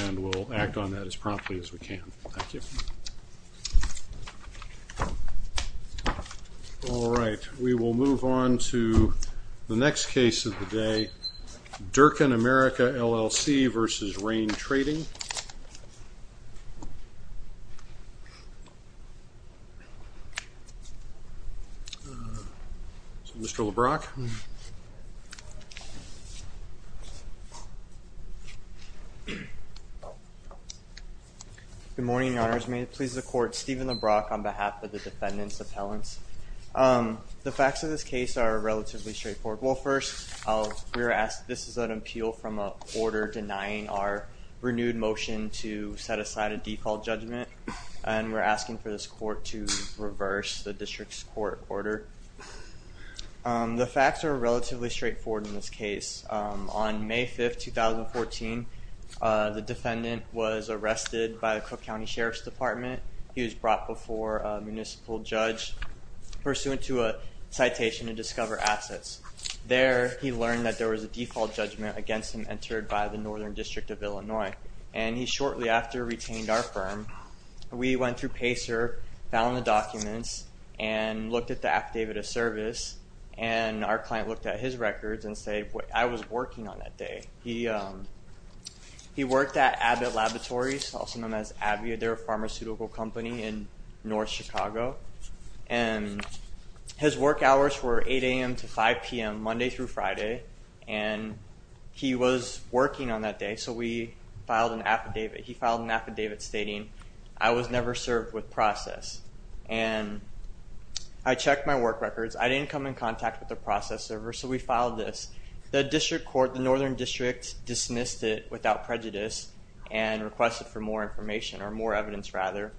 And we'll act on that as promptly as we can. Thank you. All right, we will move on to the next case of the day. Durkan America, LLC versus Rain Trading. Mr. LeBrock. Good morning, Your Honors. May it please the Court, Stephen LeBrock on behalf of the defendants' appellants. The facts of this case are relatively straightforward. Well, first, we're asked, this is an appeal from a quarter denying our renewed motion to set aside a default judgment, and we're asking for this court to reverse the district's court order. The facts are relatively straightforward in this case. On May 5, 2014, the defendant was arrested by the Cook County Sheriff's Department. He was brought before a municipal judge pursuant to a citation to discover assets. There, he learned that there was a default judgment against him entered by the Northern District of Illinois. And he shortly after retained our firm, we went through PACER, found the documents, and our client looked at his records and said, I was working on that day. He worked at Abbott Laboratories, also known as Abbott. They're a pharmaceutical company in North Chicago. And his work hours were 8 a.m. to 5 p.m. Monday through Friday. And he was working on that day, so we filed an affidavit. He filed an affidavit stating, I was never served with process. And I checked my process server, so we filed this. The district court, the Northern District, dismissed it without prejudice and requested for more information, or more evidence rather.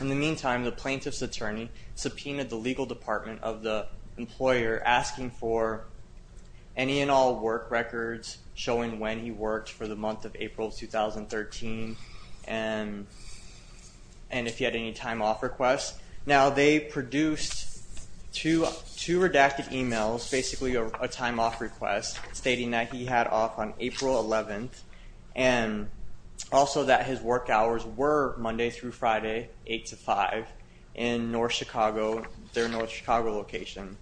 In the meantime, the plaintiff's attorney subpoenaed the legal department of the employer asking for any and all work records showing when he worked for the month of April 2013, and if he had any time off requests. Now they produced two redacted emails, basically a time off request, stating that he had off on April 11th, and also that his work hours were Monday through Friday, 8 to 5, in North Chicago, their North Chicago location.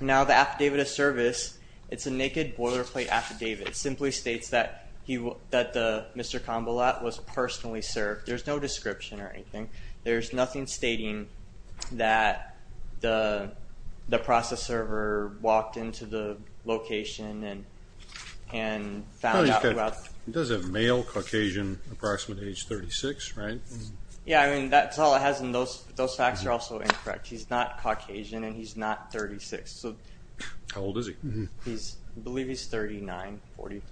Now the affidavit of service, it's a naked boilerplate affidavit. It simply states that Mr. Convalat was personally served. There's no stating that the process server walked into the location and found out who else... Does it mail Caucasian, approximate age 36, right? Yeah, I mean, that's all it has, and those facts are also incorrect. He's not Caucasian, and he's not 36, so... How old is he? He's, I believe he's 39, 40.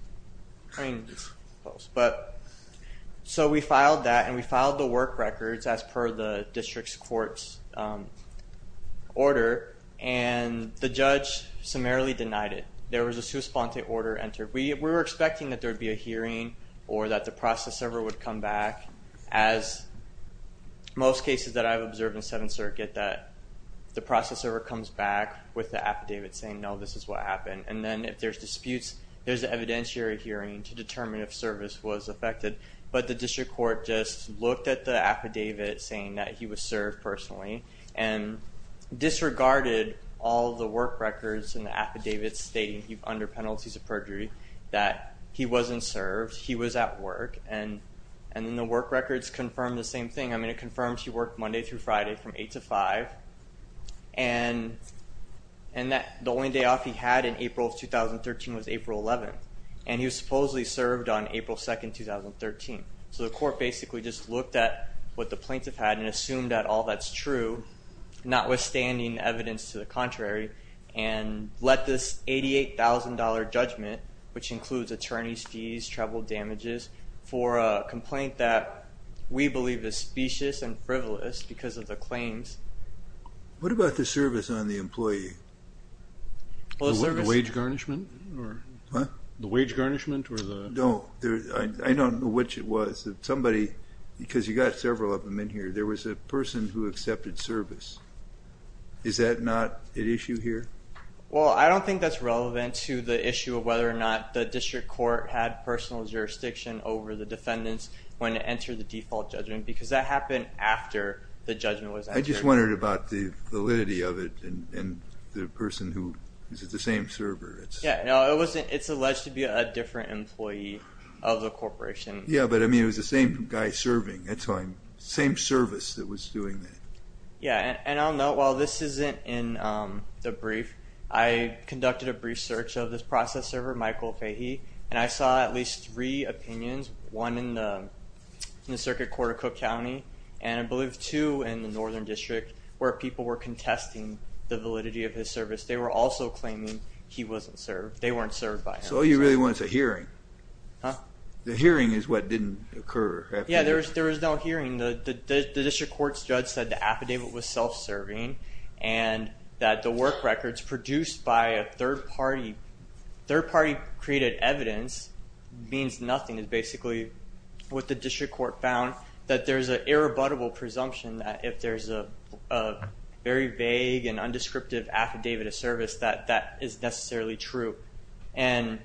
But, so we filed that, and we filed the District Court's order, and the judge summarily denied it. There was a sous-spente order entered. We were expecting that there would be a hearing, or that the process server would come back, as most cases that I've observed in Seventh Circuit, that the process server comes back with the affidavit saying, no, this is what happened, and then if there's disputes, there's an evidentiary hearing to determine if service was affected, but the District Court just served personally, and disregarded all the work records and the affidavits stating, under penalties of perjury, that he wasn't served, he was at work, and and then the work records confirmed the same thing. I mean, it confirms he worked Monday through Friday from 8 to 5, and that the only day off he had in April of 2013 was April 11th, and he was supposedly served on April 2nd, 2013. So the court basically just looked at what the plaintiff had and assumed that all that's true, notwithstanding evidence to the contrary, and let this $88,000 judgment, which includes attorney's fees, travel damages, for a complaint that we believe is specious and frivolous because of the claims. What about the service on the employee? The wage garnishment? I don't know which it was. Somebody, because you got several of them in here, there was a person who accepted service. Is that not an issue here? Well, I don't think that's relevant to the issue of whether or not the District Court had personal jurisdiction over the defendants when it entered the default judgment, because that happened after the judgment was entered. I just wondered about the validity of it, and the person who, is it the same server? Yeah, no, it's alleged to be a different employee of the corporation. Yeah, but I mean, it was the same guy serving, that's why I'm, same service that was doing that. Yeah, and I'll note while this isn't in the brief, I conducted a brief search of this process server, Michael Fahey, and I saw at least three opinions, one in the Circuit Court of Cook County, and I believe two in the Northern District, where people were contesting the validity of his service. They were also claiming he wasn't served, they weren't served by him. So all you really want is a hearing? Huh? The hearing is what didn't occur. Yeah, there was no hearing. The District Court's judge said the affidavit was self-serving, and that the work records produced by a third party, third party created evidence, means nothing. It's basically what the District Court found, that there's an irrebuttable presumption that if there's a very vague and undescriptive affidavit of service, that that is necessarily true. And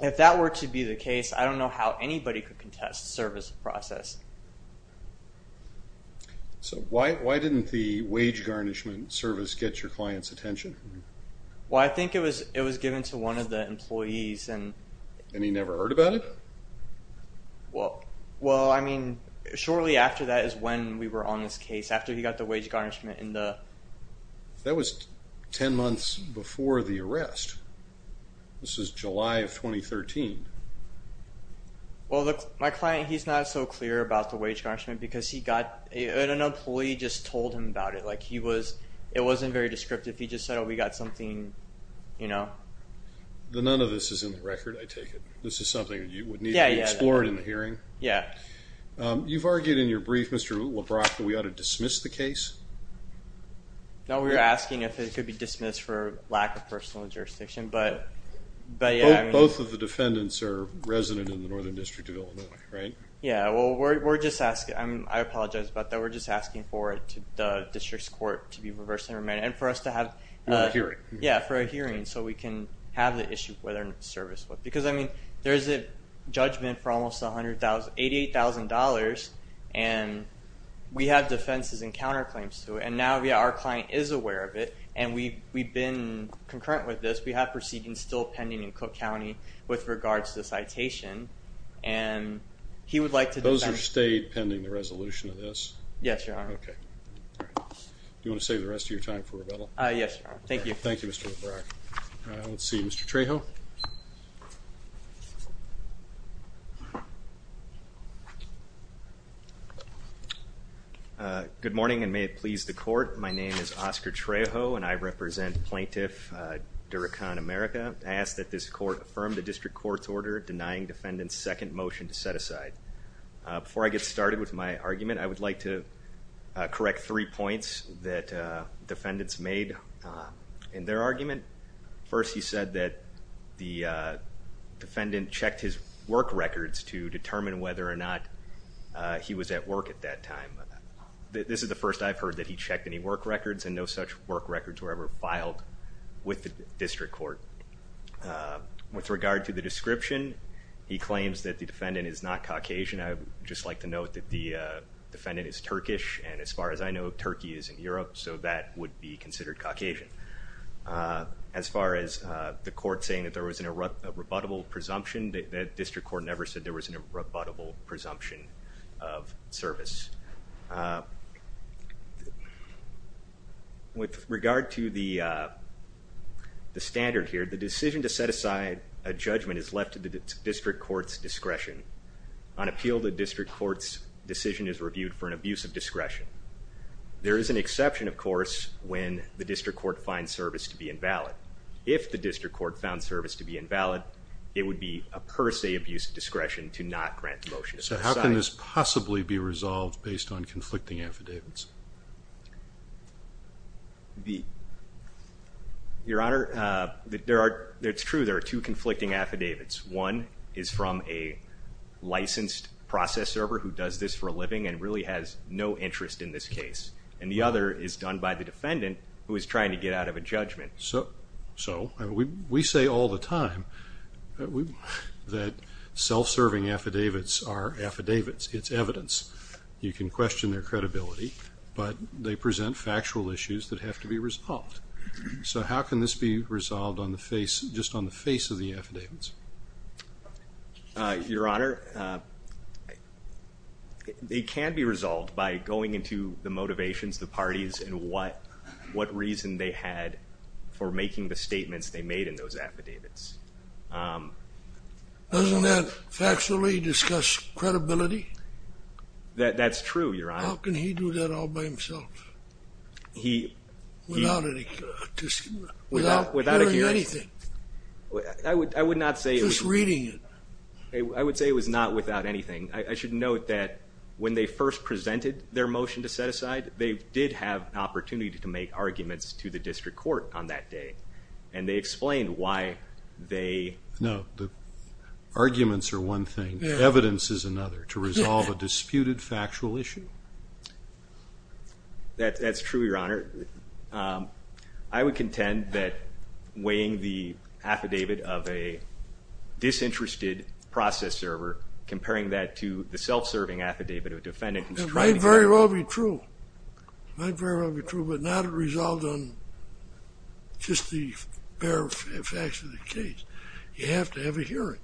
if that were to be the case, I don't know how anybody could contest the service process. So why didn't the wage garnishment service get your client's attention? Well, I think it was given to one of the employees, and... And he never heard about it? Well, I mean, shortly after that is when we were on this case, after he got the wage garnishment in the... That was ten months before the arrest. This is July of 2013. Well, my client, he's not so clear about the wage garnishment, because he got... An employee just told him about it. Like, he was... It wasn't very descriptive. He just said, oh, we got something, you know. None of this is in the record, I take it? This is something that you would need to be explored in the hearing? Yeah. You've argued in your brief, Mr. LeBrock, that we ought to dismiss the case? No, we were asking if it could be dismissed for lack of personal jurisdiction, but... Both of the defendants are resident in the Northern District of Illinois, right? Yeah, well, we're just asking... I apologize about that. We're just asking for it to the district's court to be reversed and remanded, and for us to have... For a hearing. Yeah, for a hearing, so we can have the issue for their service. Because, I mean, there's a judgment for almost $88,000, and we have defenses and counterclaims to it, and now, yeah, our client is aware of it, and we've been concurrent with this. We have proceedings still pending in Cook County with regards to the citation, and he would like to... Those are stayed pending the resolution of this? Yes, Your Honor. Okay. Do you want to save the rest of your time for rebuttal? Yes, Your Honor. Thank you. Thank you, Mr. LeBrock. Let's see, Mr. Trejo? Good morning, and may it please the court. My name is Oscar Trejo, and I represent Plaintiff Durakan America. I ask that this court affirm the district court's order denying defendants' second motion to set aside. Before I get started with my argument, I would like to correct three points that defendants made in their argument. First, he said that the defendant checked his work records to determine whether or not he was at work at that time. This is the first I've heard that he checked any work records, and no such work records were ever filed with the district court. With regard to the description, he claims that the defendant is not Caucasian. I would just like to note that the defendant is Turkish, and as far as I know, Turkey is in Europe, so that would be considered Caucasian. As far as the court saying that there was an irrebuttable presumption, the district court never said there was an irrebuttable presumption of service. With regard to the standard here, the decision to set aside a judgment is left to the district court's discretion. On appeal, the district court's decision is reviewed for an abuse of discretion. There is an exception, of course, when the district court finds service to be invalid. If the would be a per se abuse of discretion to not grant the motion. So how can this possibly be resolved based on conflicting affidavits? Your Honor, it's true there are two conflicting affidavits. One is from a licensed process server who does this for a living and really has no interest in this case, and the other is done by the defendant who is trying to get out of a that self-serving affidavits are affidavits. It's evidence. You can question their credibility, but they present factual issues that have to be resolved. So how can this be resolved on the face, just on the face of the affidavits? Your Honor, they can be resolved by going into the motivations, the parties, and what reason they had for making the statements they made in those affidavits. Doesn't that factually discuss credibility? That's true, Your Honor. How can he do that all by himself? Without hearing anything? I would not say... Just reading it. I would say it was not without anything. I should note that when they first presented their motion to set aside, they did have an opportunity to make arguments to the district court on that day, and they explained why they... No, the arguments are one thing. Evidence is another to resolve a disputed factual issue. That's true, Your Honor. I would contend that weighing the affidavit of a disinterested process server, comparing that to the self-serving affidavit of a defendant who's trying to get out... It might very well be true. It might very well be true, but not it resolved on just the bare facts of the case. You have to have a hearing,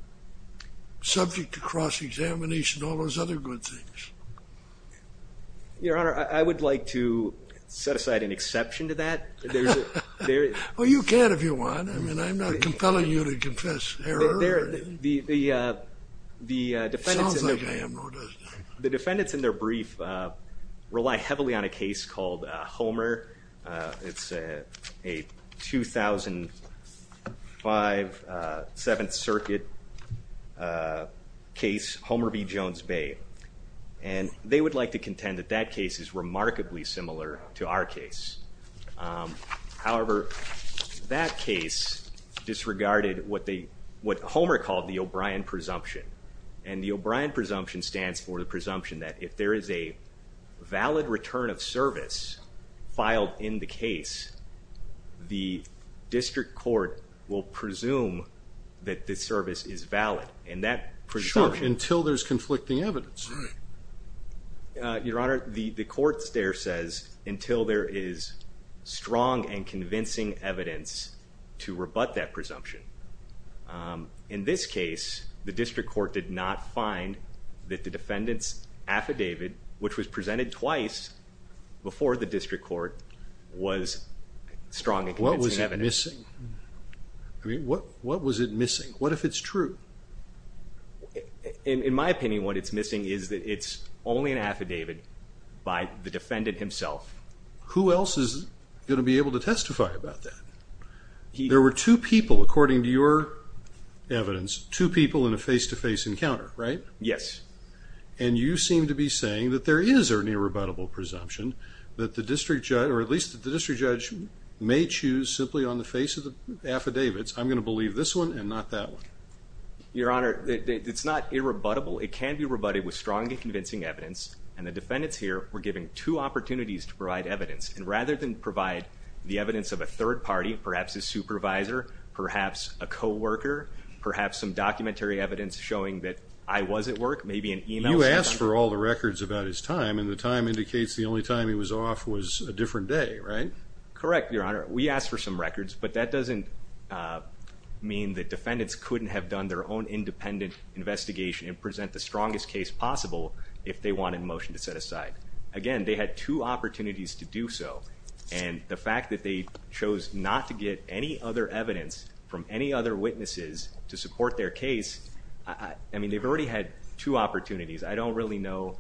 subject to cross-examination and all those other good things. Your Honor, I would like to set aside an exception to that. Well, you can if you want. I mean, I'm not compelling you to confess error or anything. It sounds like I am, though, doesn't it? The defendants in their brief rely heavily on a case called Homer. It's a 2005 Seventh Circuit case, Homer v. Jones Bay, and they would like to contend that that case is remarkably similar to our case. However, that case disregarded what Homer called the O'Brien presumption, and the O'Brien presumption stands for the presumption that if there is a valid return of service filed in the case, the district court will presume that the service is valid, and that presumption... Sure, until there's conflicting evidence. Your Honor, the court there says, until there is strong and convincing evidence to rebut that the defendant's affidavit, which was presented twice before the district court, was strong and convincing evidence. What was it missing? I mean, what was it missing? What if it's true? In my opinion, what it's missing is that it's only an affidavit by the defendant himself. Who else is going to be able to testify about that? There were two people, according to your evidence, two people in a face-to-face encounter, right? Yes. And you seem to be saying that there is an irrebuttable presumption that the district judge, or at least the district judge, may choose simply on the face of the affidavits, I'm going to believe this one and not that one. Your Honor, it's not irrebuttable. It can be rebutted with strong and convincing evidence, and the defendants here were given two opportunities to provide evidence, and rather than provide the evidence of a third party, perhaps a supervisor, perhaps a co-worker, perhaps some documentary evidence showing that I was at work, maybe an email. You asked for all the records about his time, and the time indicates the only time he was off was a different day, right? Correct, Your Honor. We asked for some records, but that doesn't mean that defendants couldn't have done their own independent investigation and present the strongest case possible if they wanted a motion to set aside. Again, they had two opportunities to do so, and the fact that they chose not to get any other witnesses to support their case, I mean, they've already had two opportunities. I don't really know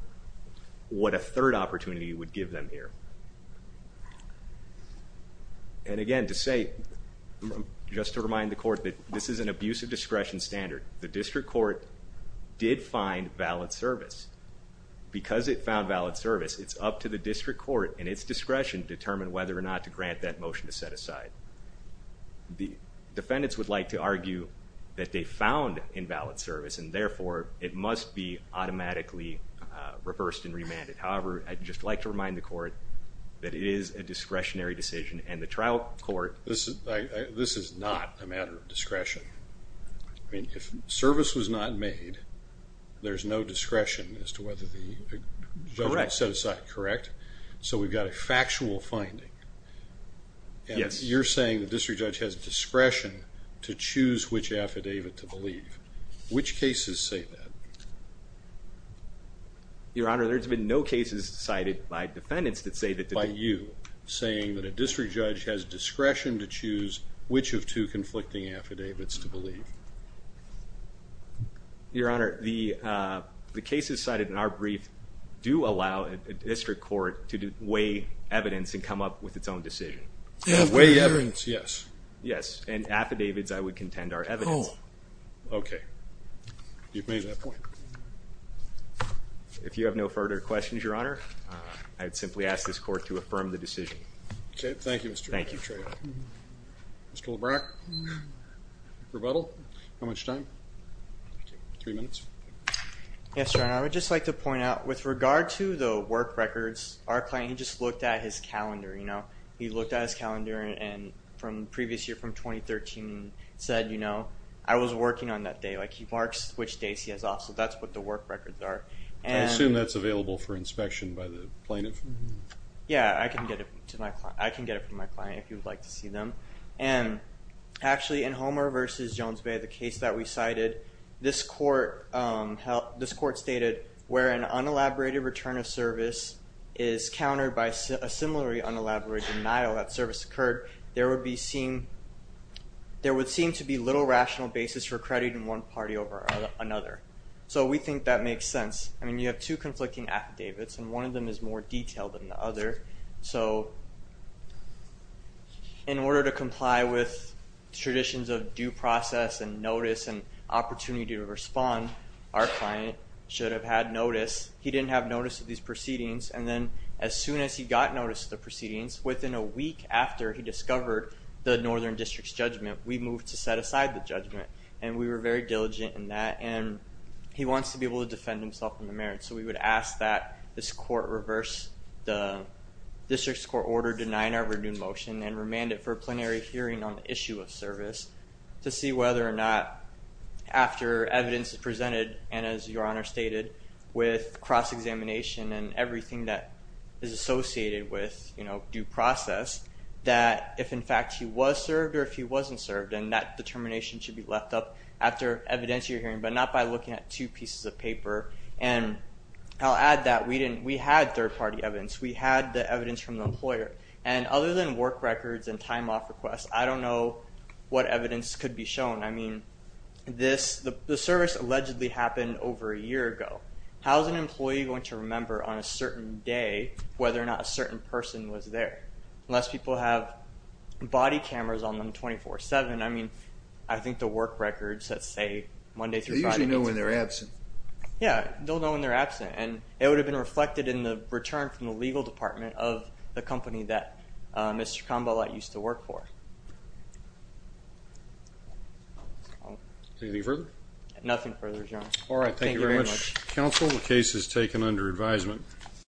what a third opportunity would give them here. And again, to say, just to remind the Court, that this is an abuse of discretion standard. The district court did find valid service. Because it found valid service, it's up to the district court and its discretion to determine whether or not to grant that motion to set aside. The defendants would like to argue that they found invalid service, and therefore, it must be automatically reversed and remanded. However, I'd just like to remind the Court that it is a discretionary decision, and the trial court... This is not a matter of discretion. I mean, if service was not made, there's no discretion as to whether the judgment was set aside, correct? So we've got a factual finding. Yes. You're saying the district judge has discretion to choose which affidavit to believe. Which cases say that? Your Honor, there's been no cases cited by defendants that say that... By you, saying that a district judge has discretion to choose which of two do allow a district court to weigh evidence and come up with its own decision. Weigh evidence, yes. Yes, and affidavits, I would contend, are evidence. Okay, you've made that point. If you have no further questions, Your Honor, I'd simply ask this Court to affirm the decision. Okay, thank you, Mr. O'Keefe. Thank you. Mr. LeBrecq, rebuttal? How much time? Three minutes. Yes, Your Honor, I would just like to point out, with regard to the work records, our client, he just looked at his calendar, you know. He looked at his calendar, and from previous year, from 2013, said, you know, I was working on that day. Like, he marks which days he has off, so that's what the work records are. I assume that's available for inspection by the plaintiff? Yeah, I can get it to my client. I can get it from my client, if you would like to see them. And, actually, in Homer v. Jones Bay, the case that we cited, this court stated, where an unelaborated return of service is countered by a similarly unelaborate denial that service occurred, there would be seen, there would seem to be little rational basis for crediting one party over another. So, we think that makes sense. I mean, you have two conflicting affidavits, and one of them is more detailed than the other. So, in order to comply with traditions of due process, and notice, and opportunity to respond, our client should have had notice. He didn't have notice of these proceedings, and then, as soon as he got notice of the proceedings, within a week after he discovered the Northern District's judgment, we moved to set aside the judgment. And, we were very diligent in that, and he wants to be able to defend himself in the merit. So, we would ask that this court reverse the district's court order denying our renewed motion, and remand it for a plenary hearing on the issue of service, to see whether or not, after evidence is presented, and as your honor stated, with cross-examination, and everything that is associated with, you know, due process, that if, in fact, he was served, or if he wasn't served, and that determination should be left up after evidence you're hearing, but not by looking at two pieces of paper. And, I'll add that we didn't, we had third-party evidence. We had the evidence from the employer, and other than work records, and time off requests, I don't know what evidence could be shown. I mean, this, the service allegedly happened over a year ago. How's an employee going to remember on a certain day, whether or not a certain person was there? Unless people have body cameras on them 24-7. I mean, I think the work records that say Monday through Friday. They'll know when they're absent. Yeah, they'll know when they're absent, and it would have been reflected in the return from the legal department of the company that Mr. Kambalat used to work for. Anything further? Nothing further, your honor. All right, thank you very much. Counsel, the case is taken under advisement.